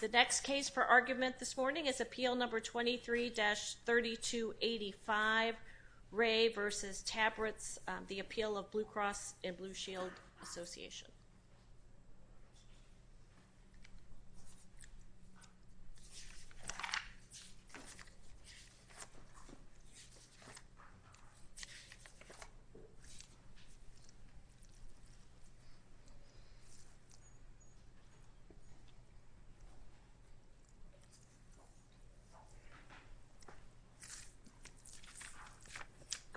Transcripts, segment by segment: The next case for argument this morning is Appeal No. 23-3285, Ray v. Tabriz, the appeal of Blue Cross and Blue Shield Association.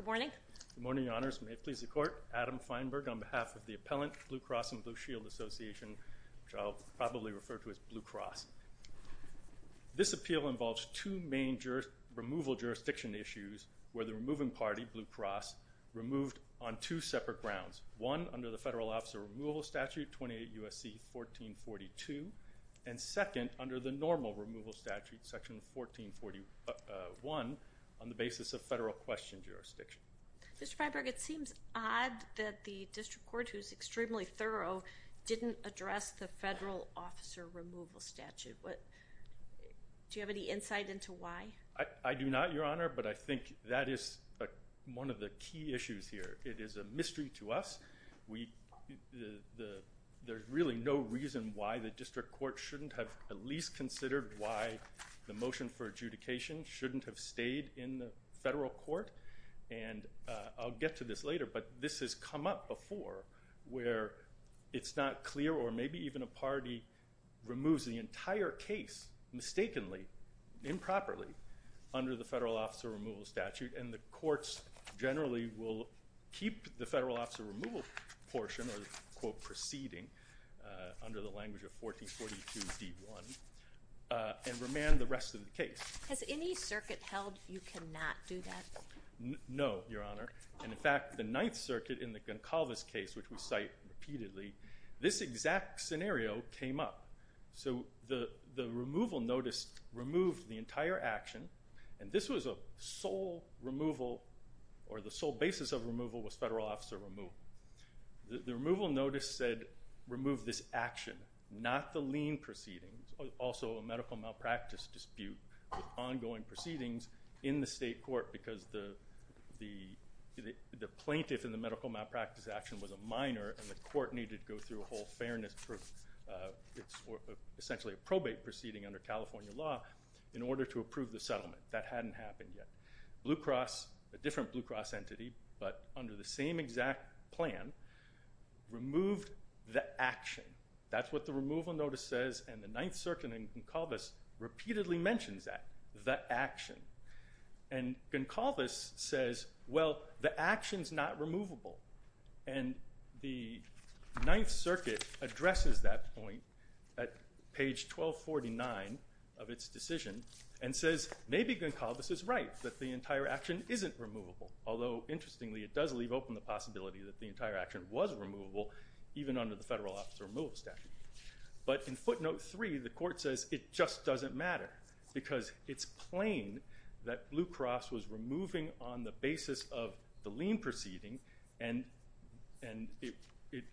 Good morning. Good morning, Your Honors. May it please the Court, Adam Feinberg on behalf of the appellant, Blue Cross and Blue Shield Association, which I'll probably refer to as Blue Cross. This appeal involves two main removal jurisdiction issues where the removing party, Blue Cross, removed on two separate grounds. One, under the Federal Officer Removal Statute, 28 U.S.C. 1442, and second, under the normal removal statute, Section 1441, on the basis of federal question jurisdiction. Mr. Feinberg, it seems odd that the District Court, who is extremely thorough, didn't address the Federal Officer Removal Statute. Do you have any insight into why? I do not, Your Honor, but I think that is one of the key issues here. It is a mystery to us. There's really no reason why the District Court shouldn't have at least considered why the motion for adjudication shouldn't have stayed in the federal court. And I'll get to this later, but this has come up before where it's not clear, or maybe even a party removes the entire case mistakenly, improperly, under the Federal Officer Removal Statute, and the courts generally will keep the Federal Officer Removal portion, or quote, proceeding, under the language of 1442d1, and remand the rest of the case. Has any circuit held you cannot do that? No, Your Honor, and in fact, the Ninth Circuit, in the Goncalves case, which we cite repeatedly, this exact scenario came up. So the removal notice removed the entire action, and this was a sole removal, or the sole basis of removal was Federal Officer Removal. The removal notice said remove this action, not the lien proceedings, also a medical malpractice dispute with ongoing proceedings in the state court because the plaintiff in the medical malpractice action was a minor, and the court needed to go through a whole fairness, essentially a probate proceeding under California law, in order to approve the settlement. That hadn't happened yet. Blue Cross, a different Blue Cross entity, but under the same exact plan, removed the action. That's what the removal notice says, and the Ninth Circuit in Goncalves repeatedly mentions that, the action. And Goncalves says, well, the action's not removable, and the Ninth Circuit addresses that point at page 1249 of its decision, and says, maybe Goncalves is right, that the entire action isn't removable, although, interestingly, it does leave open the possibility that the entire action was removable, even under the Federal Officer Removal statute. But in footnote three, the court says, it just doesn't matter, because it's plain that Blue Cross was removing on the basis of the lien proceeding, and it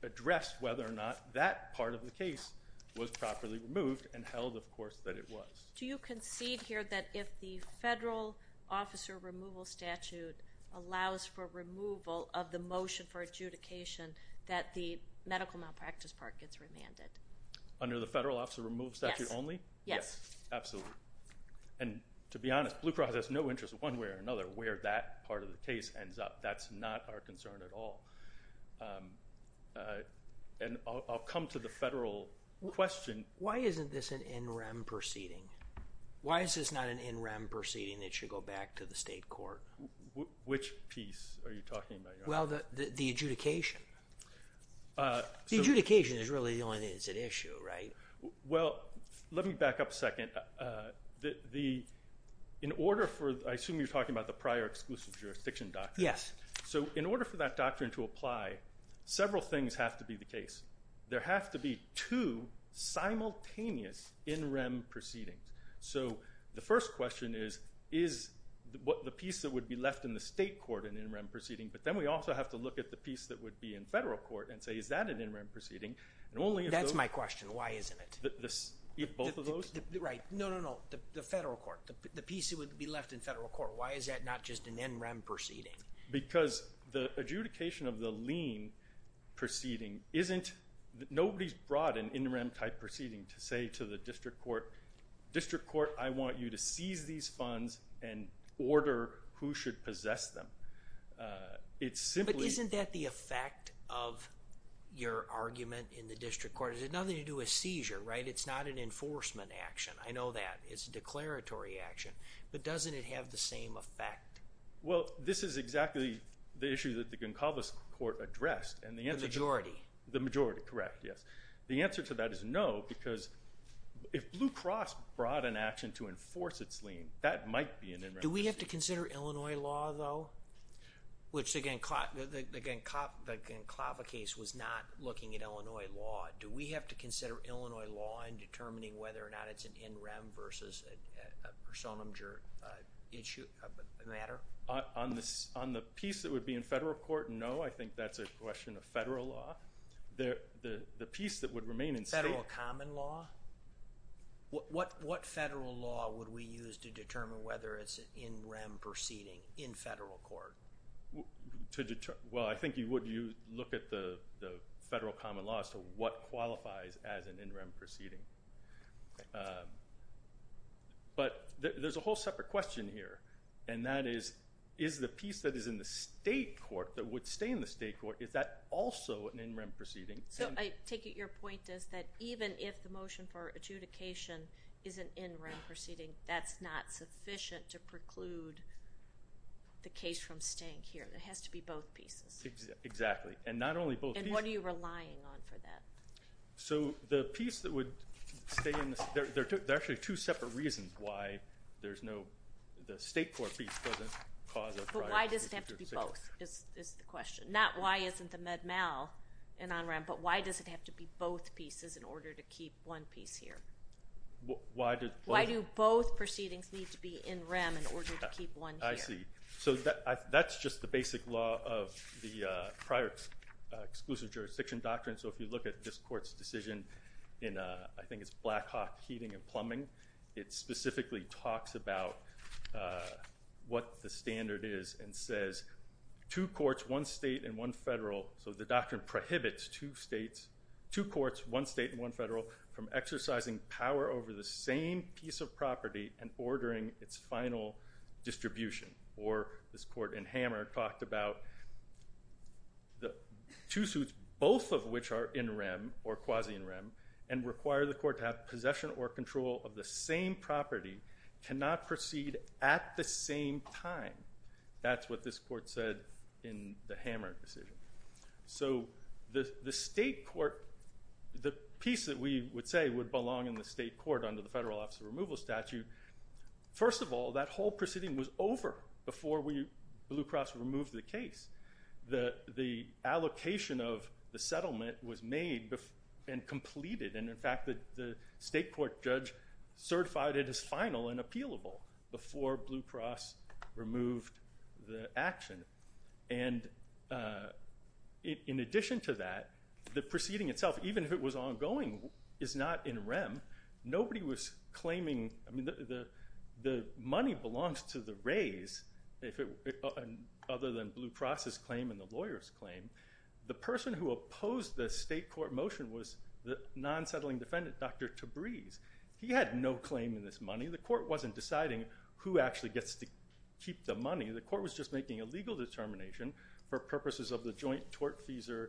addressed whether or not that part of the case was properly removed, and held, of course, that it was. Do you concede here that if the Federal Officer Removal statute allows for removal of the motion for adjudication, that the medical malpractice part gets remanded? Under the Federal Officer Removal statute only? Yes. Absolutely. And, to be honest, Blue Cross has no interest, one way or another, where that part of the case ends up. That's not our concern at all. And I'll come to the Federal question. Why isn't this an NREM proceeding? Why is this not an NREM proceeding that should go back to the state court? Which piece are you talking about? Well, the adjudication. The adjudication is really the only thing that's at issue, right? Well, let me back up a second. In order for, I assume you're talking about the prior exclusive jurisdiction doctrine? Yes. So, in order for that doctrine to apply, several things have to be the case. There have to be two simultaneous NREM proceedings. So, the first question is, is the piece that would be left in the state court an NREM proceeding? But then we also have to look at the piece that would be in federal court and say, is that an NREM proceeding? That's my question. Why isn't it? If both of those? Right. No, no, no. The federal court. The piece that would be left in federal court. Why is that not just an NREM proceeding? Because the adjudication of the lien proceeding isn't, nobody's brought an NREM type proceeding to say to the district court, district court, I want you to seize these funds and order who should possess them. But isn't that the effect of your argument in the district court? It has nothing to do with seizure, right? It's not an enforcement action. I know that. It's a declaratory action. But doesn't it have the same effect? Well, this is exactly the issue that the Goncalves Court addressed. The majority. The majority. Correct. Yes. The answer to that is no, because if Blue Cross brought an action to enforce its lien, that might be an NREM proceeding. Do we have to consider Illinois law, though? Which again, the Goncalves case was not looking at Illinois law. Do we have to consider Illinois law in determining whether or not it's an NREM versus a personum matter? On the piece that would be in federal court, no. I think that's a question of federal law. The piece that would remain in state. Federal common law? What federal law would we use to determine whether it's an NREM proceeding in federal court? Well, I think you would look at the federal common law as to what qualifies as an NREM proceeding. But there's a whole separate question here, and that is, is the piece that is in the state court, that would stay in the state court, is that also an NREM proceeding? So I take it your point is that even if the motion for adjudication is an NREM proceeding, that's not sufficient to preclude the case from staying here. It has to be both pieces. Exactly. And not only both pieces. And what are you relying on for that? So the piece that would stay in the state, there are actually two separate reasons why there's no, the state court piece doesn't cause a prior case. Why does it have to be both is the question. Not why isn't the Med-Mal an NREM, but why does it have to be both pieces in order to keep one piece here? Why do both proceedings need to be in REM in order to keep one here? I see. So that's just the basic law of the prior exclusive jurisdiction doctrine. So if you look at this court's decision in, I think it's Black Hawk Heating and Plumbing, it specifically talks about what the standard is and says two courts, one state and one federal. So the doctrine prohibits two states, two courts, one state and one federal, from exercising power over the same piece of property and ordering its final distribution. Or this court in Hammer talked about the two suits, both of which are NREM or quasi NREM, and require the court to have possession or control of the same property, cannot proceed at the same time. That's what this court said in the Hammer decision. So the state court, the piece that we would say would belong in the state court under the Federal Office of Removal statute, first of all, that whole proceeding was over before we, Blue Cross, removed the case. The allocation of the settlement was made and completed, and in fact the state court judge certified it as final and appealable before Blue Cross removed the action. And in addition to that, the proceeding itself, even if it was ongoing, is not in REM. The money belongs to the raise, other than Blue Cross's claim and the lawyer's claim. The person who opposed the state court motion was the non-settling defendant, Dr. Tabreez. He had no claim in this money. The court wasn't deciding who actually gets to keep the money. The court was just making a legal determination for purposes of the joint tort-feasor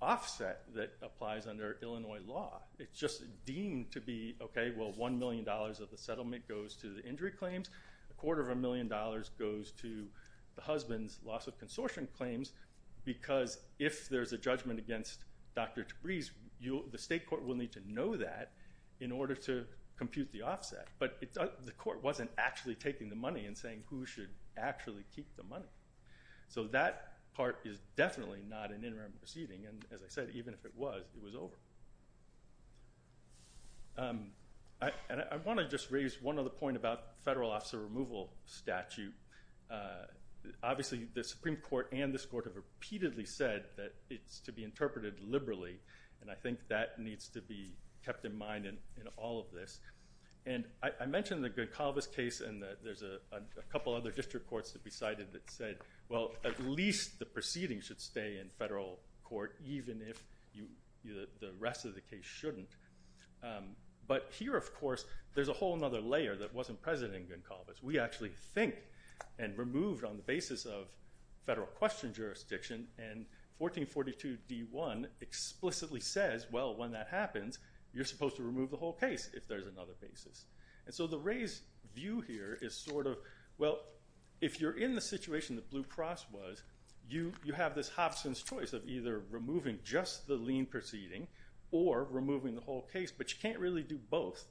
offset that applies under Illinois law. It's just deemed to be, okay, well, $1 million of the settlement goes to the injury claims, a quarter of a million dollars goes to the husband's loss of consortium claims, because if there's a judgment against Dr. Tabreez, the state court will need to know that in order to compute the offset. But the court wasn't actually taking the money and saying who should actually keep the money. So that part is definitely not an interim proceeding, and as I said, even if it was, it was over. And I want to just raise one other point about federal officer removal statute. Obviously, the Supreme Court and this court have repeatedly said that it's to be interpreted liberally, and I think that needs to be kept in mind in all of this. And I mentioned the Gunkalvis case, and there's a couple other district courts that we cited that said, well, at least the proceeding should stay in federal court even if the rest of the case shouldn't. But here, of course, there's a whole other layer that wasn't present in Gunkalvis. We actually think and removed on the basis of federal question jurisdiction, and 1442D1 explicitly says, well, when that happens, you're supposed to remove the whole case if there's another basis. And so the raised view here is sort of, well, if you're in the situation that Blue Cross was, you have this Hobson's choice of either removing just the lien proceeding or removing the whole case, but you can't really do both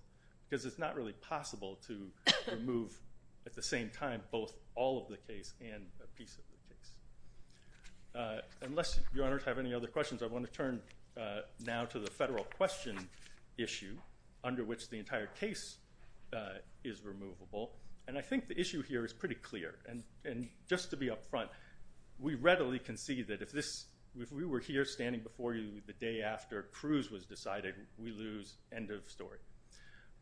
because it's not really possible to remove at the same time both all of the case and a piece of the case. Unless your honors have any other questions, I want to turn now to the federal question issue under which the entire case is removable. And I think the issue here is pretty clear. And just to be up front, we readily concede that if we were here standing before you the day after Cruz was decided, we lose, end of story.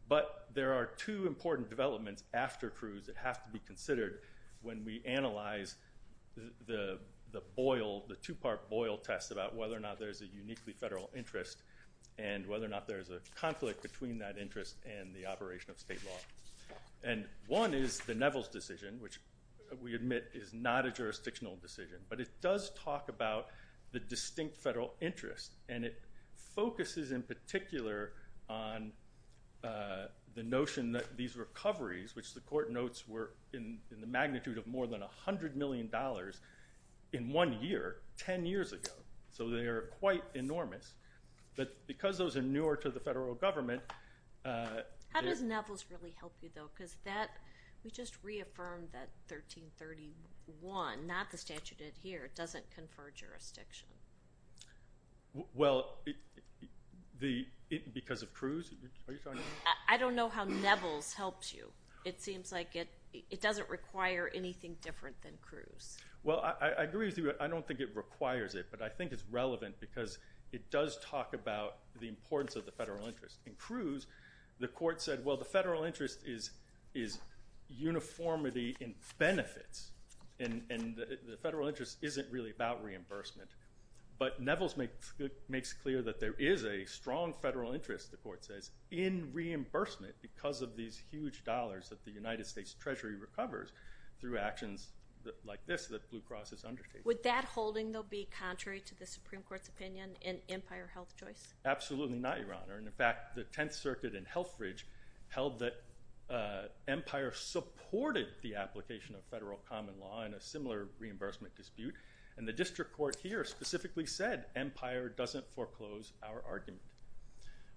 But there are two important developments after Cruz that have to be considered when we analyze the boil, the two-part boil test about whether or not there's a uniquely federal interest and whether or not there's a conflict between that interest and the operation of state law. And one is the Neville's decision, which we admit is not a jurisdictional decision, but it does talk about the distinct federal interest, and it focuses in particular on the notion that these recoveries, which the court notes were in the magnitude of more than $100 million in one year, 10 years ago. So they are quite enormous. But because those are newer to the federal government, How does Neville's really help you, though? Because we just reaffirmed that 1331, not the statute here, doesn't confer jurisdiction. Well, because of Cruz? I don't know how Neville's helps you. It seems like it doesn't require anything different than Cruz. Well, I agree with you. I don't think it requires it, but I think it's relevant because it does talk about the importance of the federal interest, and Cruz, the court said, well, the federal interest is uniformity in benefits, and the federal interest isn't really about reimbursement. But Neville's makes clear that there is a strong federal interest, the court says, in reimbursement because of these huge dollars that the United States Treasury recovers through actions like this that Blue Cross has undertaken. Would that holding, though, be contrary to the Supreme Court's opinion in Empire Health Choice? Absolutely not, Your Honor. In fact, the Tenth Circuit in Helfridge held that Empire supported the application of federal common law in a similar reimbursement dispute, and the district court here specifically said Empire doesn't foreclose our argument.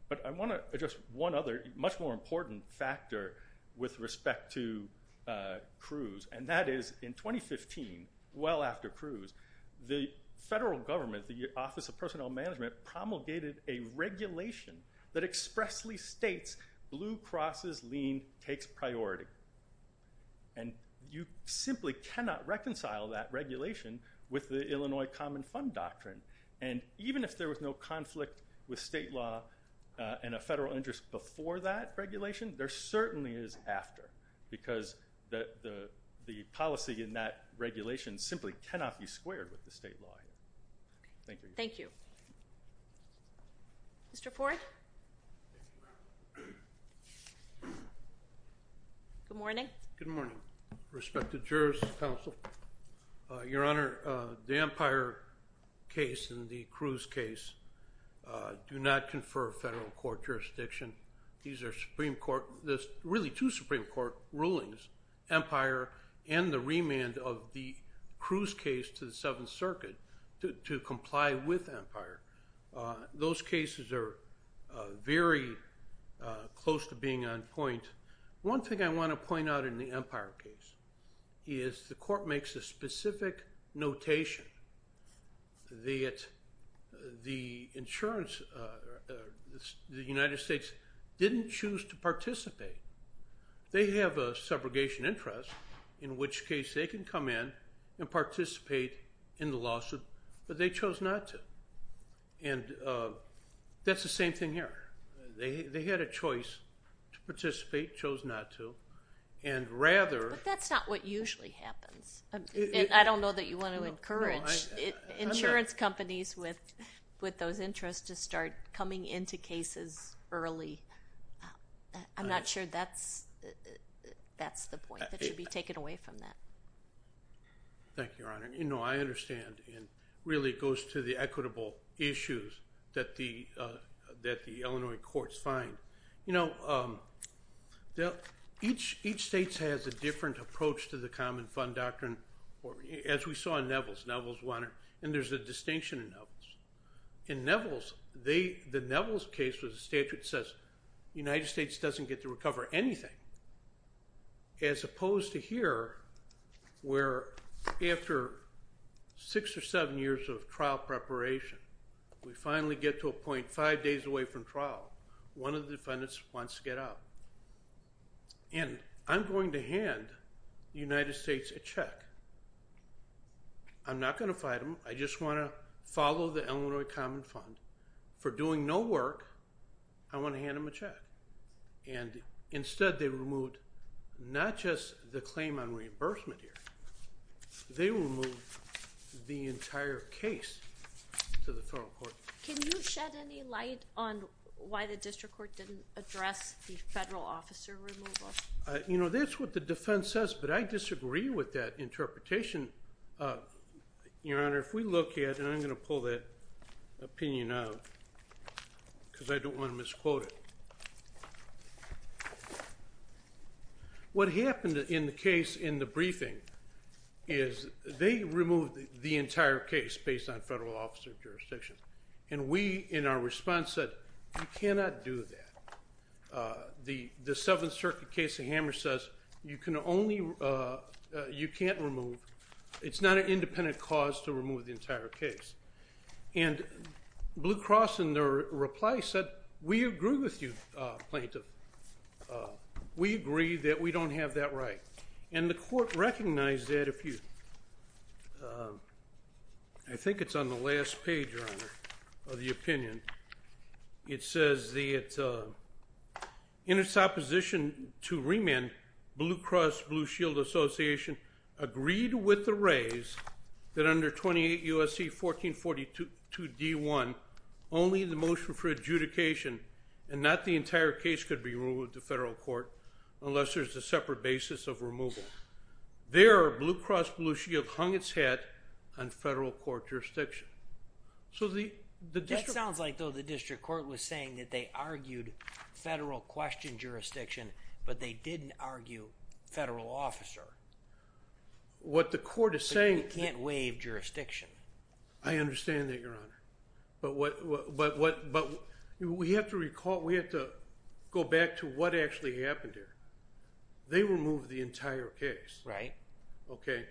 But I want to address one other much more important factor with respect to Cruz, and that is in 2015, well after Cruz, the federal government, the Office of Personnel Management, promulgated a regulation that expressly states Blue Cross's lien takes priority, and you simply cannot reconcile that regulation with the Illinois Common Fund Doctrine. And even if there was no conflict with state law and a federal interest before that regulation, there certainly is after because the policy in that regulation simply cannot be squared with the state law. Thank you. Mr. Ford? Good morning. Good morning. Respect to jurors, counsel. Your Honor, the Empire case and the Cruz case do not confer federal court jurisdiction. There are really two Supreme Court rulings, Empire and the remand of the Cruz case to the Seventh Circuit, to comply with Empire. Those cases are very close to being on point. One thing I want to point out in the Empire case is the court makes a specific notation that the insurance, the United States, didn't choose to participate. They have a subrogation interest, in which case they can come in and participate in the lawsuit, but they chose not to. And that's the same thing here. They had a choice to participate, chose not to, and rather. But that's not what usually happens. I don't know that you want to encourage insurance companies with those interests to start coming into cases early. I'm not sure that's the point. That should be taken away from that. Thank you, Your Honor. You know, I understand, and really it goes to the equitable issues that the Illinois courts find. You know, each state has a different approach to the common fund doctrine, as we saw in Neville's. Neville's won it, and there's a distinction in Neville's. In Neville's, the Neville's case was a statute that says the United States doesn't get to recover anything, as opposed to here, where after six or seven years of trial preparation, we finally get to a point five days away from trial. One of the defendants wants to get out. And I'm going to hand the United States a check. I'm not going to fight them. I just want to follow the Illinois common fund. For doing no work, I want to hand them a check. And instead they removed not just the claim on reimbursement here. They removed the entire case to the federal court. Can you shed any light on why the district court didn't address the federal officer removal? You know, that's what the defense says, but I disagree with that interpretation. Your Honor, if we look at it, and I'm going to pull that opinion out because I don't want to misquote it. What happened in the case in the briefing is they removed the entire case based on federal officer jurisdiction. And we, in our response, said you cannot do that. The Seventh Circuit case in Hammers says you can only, you can't remove, it's not an independent cause to remove the entire case. And Blue Cross in their reply said, we agree with you, plaintiff. We agree that we don't have that right. And the court recognized that if you, I think it's on the last page, Your Honor, of the opinion. It says in its opposition to remand, Blue Cross Blue Shield Association agreed with the raise that under 28 U.S.C. 1442 D1, only the motion for adjudication, and not the entire case could be removed to federal court unless there's a separate basis of removal. There, Blue Cross Blue Shield hung its hat on federal court jurisdiction. So the district. That sounds like though the district court was saying that they argued federal question jurisdiction, but they didn't argue federal officer. What the court is saying. You can't waive jurisdiction. I understand that, Your Honor. But we have to recall, we have to go back to what actually happened here. They removed the entire case. Right. Okay.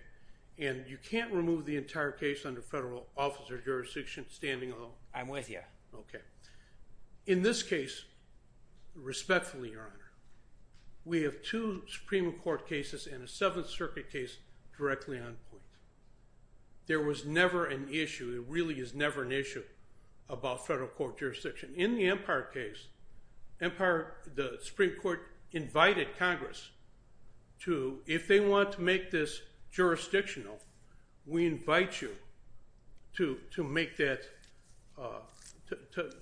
And you can't remove the entire case under federal officer jurisdiction standing alone. I'm with you. Okay. In this case, respectfully, Your Honor, we have two Supreme Court cases and a Seventh Circuit case directly on point. There was never an issue. It really is never an issue about federal court jurisdiction. In the Empire case, the Supreme Court invited Congress to, if they want to make this jurisdictional, we invite you to make that,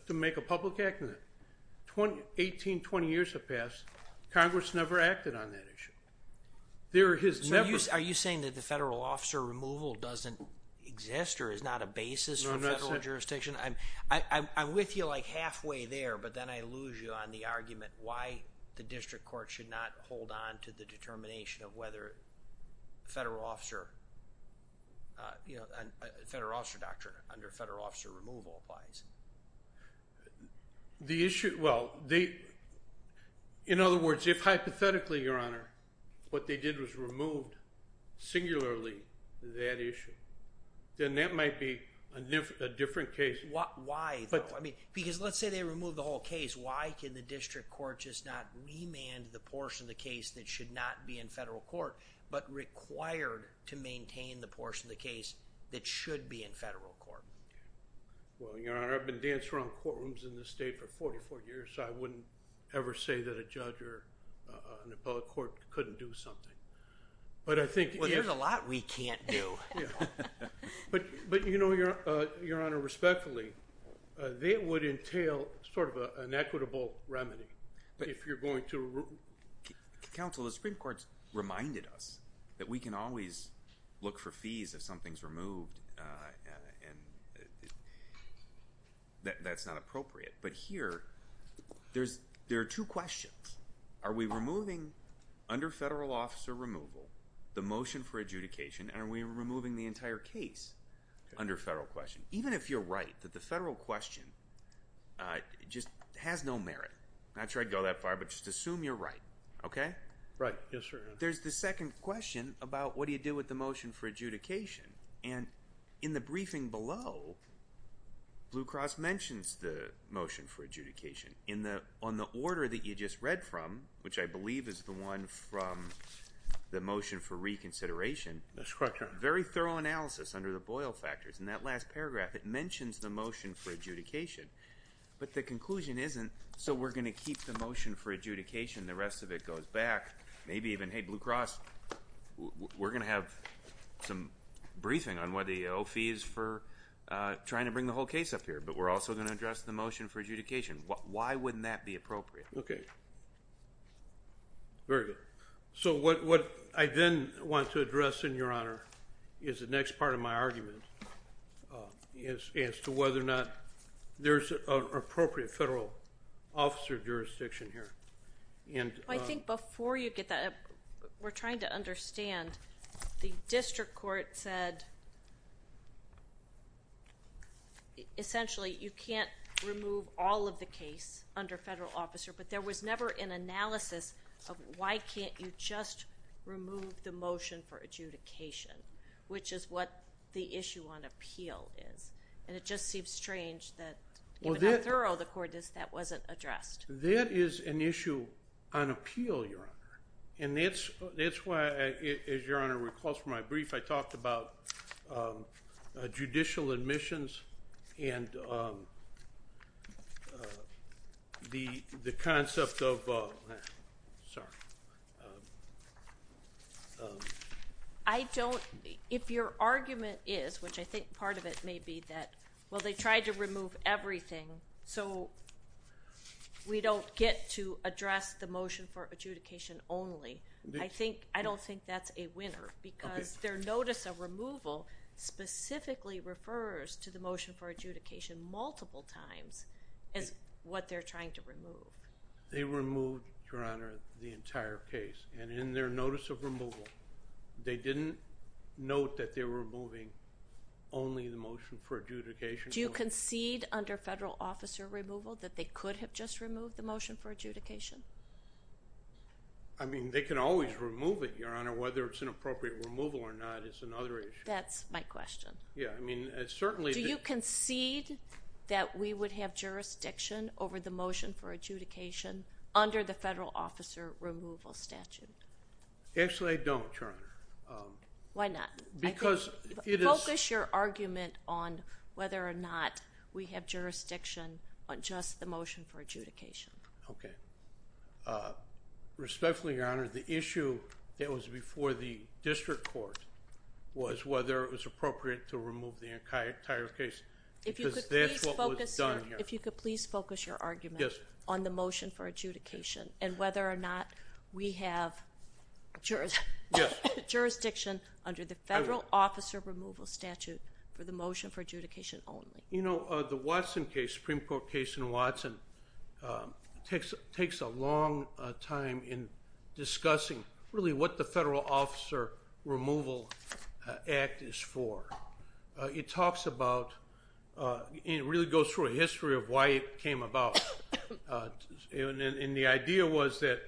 to make a public act. 18, 20 years have passed. Congress never acted on that issue. Are you saying that the federal officer removal doesn't exist or is not a basis for federal jurisdiction? I'm with you like halfway there, but then I lose you on the argument why the district court should not hold on to the determination of whether federal officer, you know, federal officer doctrine under federal officer removal applies. The issue, well, they, in other words, if hypothetically, Your Honor, what they did was removed singularly that issue, then that might be a different case. Why? Because let's say they remove the whole case. Why can the district court just not remand the portion of the case that should not be in federal court but required to maintain the portion of the case that should be in federal court? Well, Your Honor, I've been dancing around courtrooms in this state for 44 years, so I wouldn't ever say that a judge or an appellate court couldn't do something. Well, there's a lot we can't do. But, you know, Your Honor, respectfully, that would entail sort of an equitable remedy. If you're going to remove it. Counsel, the Supreme Court's reminded us that we can always look for fees if something's removed, and that's not appropriate. But here, there are two questions. Are we removing under federal officer removal the motion for adjudication, and are we removing the entire case under federal question? Even if you're right that the federal question just has no merit, I'm not sure I'd go that far, but just assume you're right, okay? Right. Yes, sir. There's the second question about what do you do with the motion for adjudication. And in the briefing below, Blue Cross mentions the motion for adjudication. On the order that you just read from, which I believe is the one from the motion for reconsideration, That's correct, Your Honor. very thorough analysis under the Boyle factors. In that last paragraph, it mentions the motion for adjudication, but the conclusion isn't, so we're going to keep the motion for adjudication. The rest of it goes back, maybe even, hey, Blue Cross, we're going to have some briefing on whether you owe fees for trying to bring the whole case up here, but we're also going to address the motion for adjudication. Why wouldn't that be appropriate? Okay. Very good. So what I then want to address, then, Your Honor, is the next part of my argument, as to whether or not there's an appropriate federal officer jurisdiction here. I think before you get that, we're trying to understand. The district court said, essentially, you can't remove all of the case under federal officer, but there was never an analysis of why can't you just remove the motion for adjudication, which is what the issue on appeal is, and it just seems strange that even how thorough the court is, that wasn't addressed. That is an issue on appeal, Your Honor, and that's why, as Your Honor recalls from my brief, I talked about judicial admissions and the concept of, sorry. I don't, if your argument is, which I think part of it may be that, well, they tried to remove everything, so we don't get to address the motion for adjudication only, I don't think that's a winner because their notice of removal specifically refers to the motion for adjudication multiple times as what they're trying to remove. They removed, Your Honor, the entire case, and in their notice of removal, they didn't note that they were removing only the motion for adjudication. Do you concede under federal officer removal that they could have just removed the motion for adjudication? I mean, they can always remove it, Your Honor. Whether it's an appropriate removal or not is another issue. That's my question. Yeah, I mean, certainly. Do you concede that we would have jurisdiction over the motion for adjudication under the federal officer removal statute? Actually, I don't, Your Honor. Why not? Because it is. Focus your argument on whether or not we have jurisdiction on just the motion for adjudication. Okay. Respectfully, Your Honor, the issue that was before the district court was whether it was appropriate to remove the entire case. Because that's what was done here. If you could please focus your argument on the motion for adjudication and whether or not we have jurisdiction under the federal officer removal statute for the motion for adjudication only. You know, the Watson case, Supreme Court case in Watson, takes a long time in discussing really what the federal officer removal act is for. It talks about and really goes through a history of why it came about. And the idea was that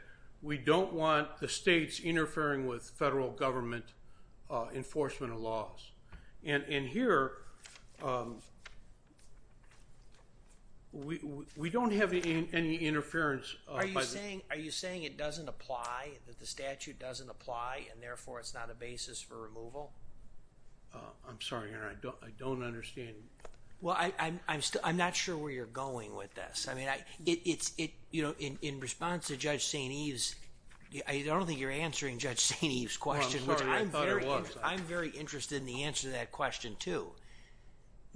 we don't want the states interfering with federal government enforcement laws. And here, we don't have any interference. Are you saying it doesn't apply, that the statute doesn't apply, and therefore it's not a basis for removal? I'm sorry, Your Honor. I don't understand. Well, I'm not sure where you're going with this. I mean, in response to Judge St. Eve's, I don't think you're answering Judge St. Eve's question. I'm sorry. I thought I was. I'm very interested in the answer to that question, too.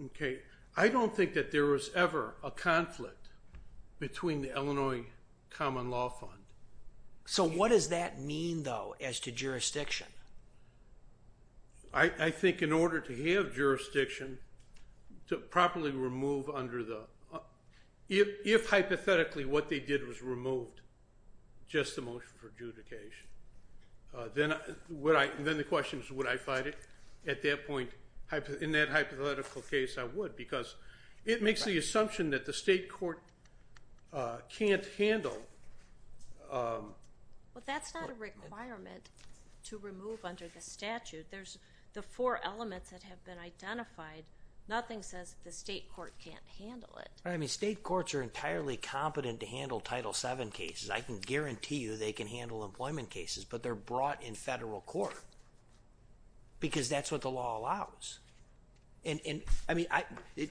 Okay. I don't think that there was ever a conflict between the Illinois Common Law Fund. So what does that mean, though, as to jurisdiction? I think in order to have jurisdiction to properly remove under the – if hypothetically what they did was remove just the motion for adjudication, then the question is would I fight it? At that point, in that hypothetical case, I would because it makes the assumption that the state court can't handle. Well, that's not a requirement to remove under the statute. There's the four elements that have been identified. Nothing says the state court can't handle it. I mean, state courts are entirely competent to handle Title VII cases. I can guarantee you they can handle employment cases, but they're brought in federal court because that's what the law allows. And, I mean,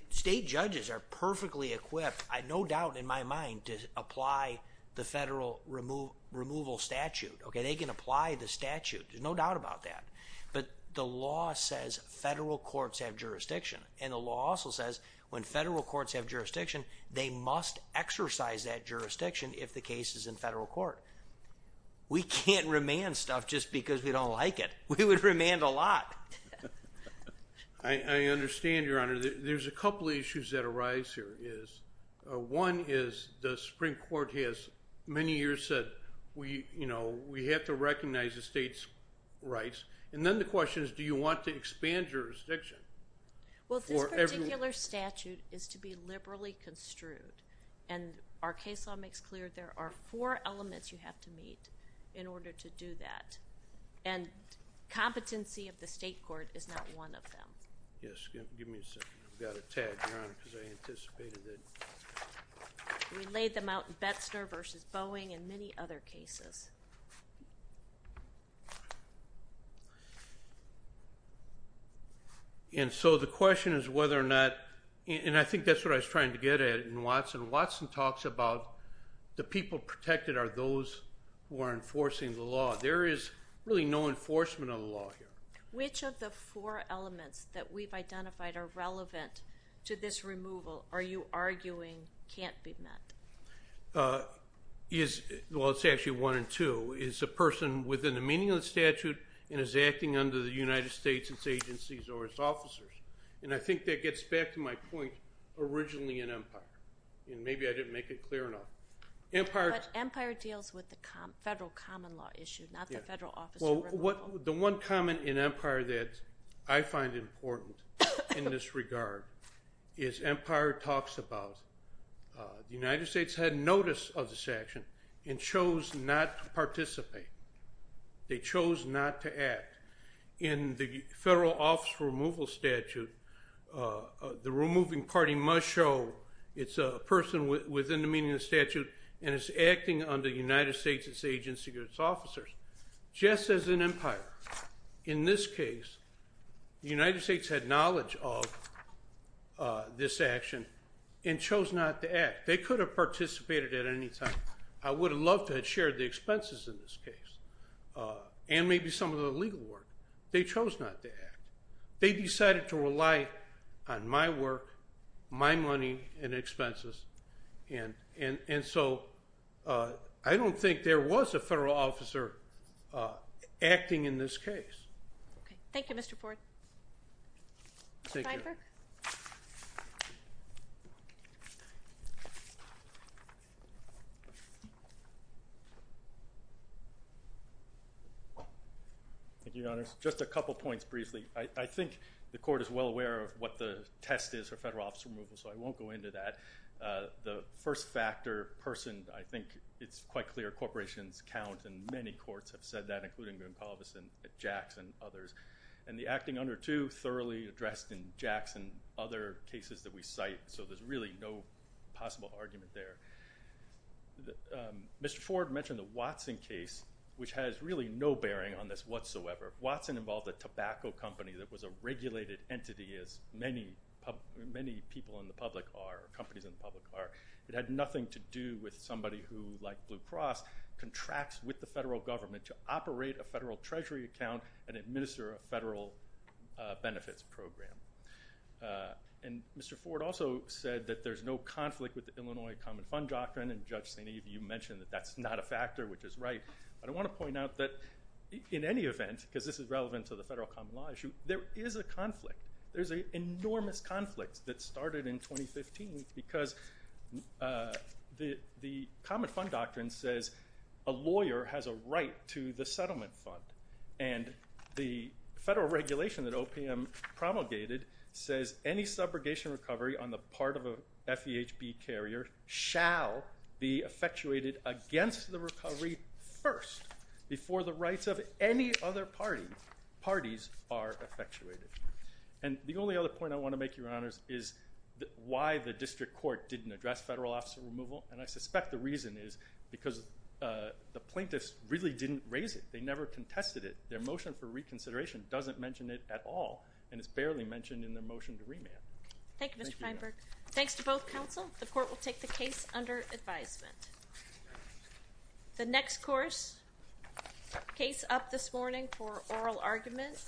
state judges are perfectly equipped, no doubt in my mind, to apply the federal removal statute. They can apply the statute. There's no doubt about that. But the law says federal courts have jurisdiction, and the law also says when federal courts have jurisdiction, they must exercise that jurisdiction if the case is in federal court. We can't remand stuff just because we don't like it. We would remand a lot. I understand, Your Honor. There's a couple of issues that arise here. One is the Supreme Court has many years said we have to recognize the state's rights, and then the question is do you want to expand jurisdiction for everyone? Well, this particular statute is to be liberally construed, and our case law makes clear there are four elements you have to meet in order to do that, and competency of the state court is not one of them. Yes, give me a second. I've got a tag, Your Honor, because I anticipated it. We laid them out in Betzner v. Boeing and many other cases. And so the question is whether or not, and I think that's what I was trying to get at in Watson. Watson talks about the people protected are those who are enforcing the law. There is really no enforcement of the law here. Which of the four elements that we've identified are relevant to this removal are you arguing can't be met? Well, it's actually one and two. It's a person within a meaningless statute and is acting under the United States, its agencies, or its officers. And I think that gets back to my point originally in Empire, and maybe I didn't make it clear enough. But Empire deals with the federal common law issue, not the federal officer. The one comment in Empire that I find important in this regard is Empire talks about the United States had notice of this action and chose not to participate. They chose not to act. In the federal officer removal statute, the removing party must show it's a person within the meaningless statute and is acting under the United States, its agencies, or its officers. Just as in Empire, in this case, the United States had knowledge of this action and chose not to act. They could have participated at any time. I would have loved to have shared the expenses in this case and maybe some of the legal work. They chose not to act. They decided to rely on my work, my money, and expenses. And so I don't think there was a federal officer acting in this case. Okay. Thank you, Mr. Ford. Thank you. Mr. Feinberg. Thank you, Your Honors. Just a couple points briefly. I think the Court is well aware of what the test is for federal officer removal, so I won't go into that. The first factor, person, I think it's quite clear corporations count, and many courts have said that, including McAuliffe and Jackson and others. And the acting under two, thoroughly addressed in Jackson and other cases that we cite, so there's really no possible argument there. Mr. Ford mentioned the Watson case, which has really no bearing on this whatsoever. Watson involved a tobacco company that was a regulated entity, as many people in the public are, or companies in the public are. It had nothing to do with somebody who, like Blue Cross, contracts with the federal government to operate a federal treasury account and administer a federal benefits program. And Mr. Ford also said that there's no conflict with the Illinois Common Fund Doctrine, and Judge St. Eve, you mentioned that that's not a factor, which is right. I want to point out that in any event, because this is relevant to the federal common law issue, there is a conflict. There's an enormous conflict that started in 2015 because the Common Fund Doctrine says a lawyer has a right to the settlement fund. And the federal regulation that OPM promulgated says any subrogation recovery on the part of a FEHB carrier shall be effectuated against the recovery first before the rights of any other parties are effectuated. And the only other point I want to make, Your Honors, is why the district court didn't address federal officer removal, and I suspect the reason is because the plaintiffs really didn't raise it. They never contested it. Their motion for reconsideration doesn't mention it at all, and it's barely mentioned in their motion to remand. Thank you, Mr. Feinberg. Thanks to both counsel. The court will take the case under advisement. The next course, case up this morning for oral argument.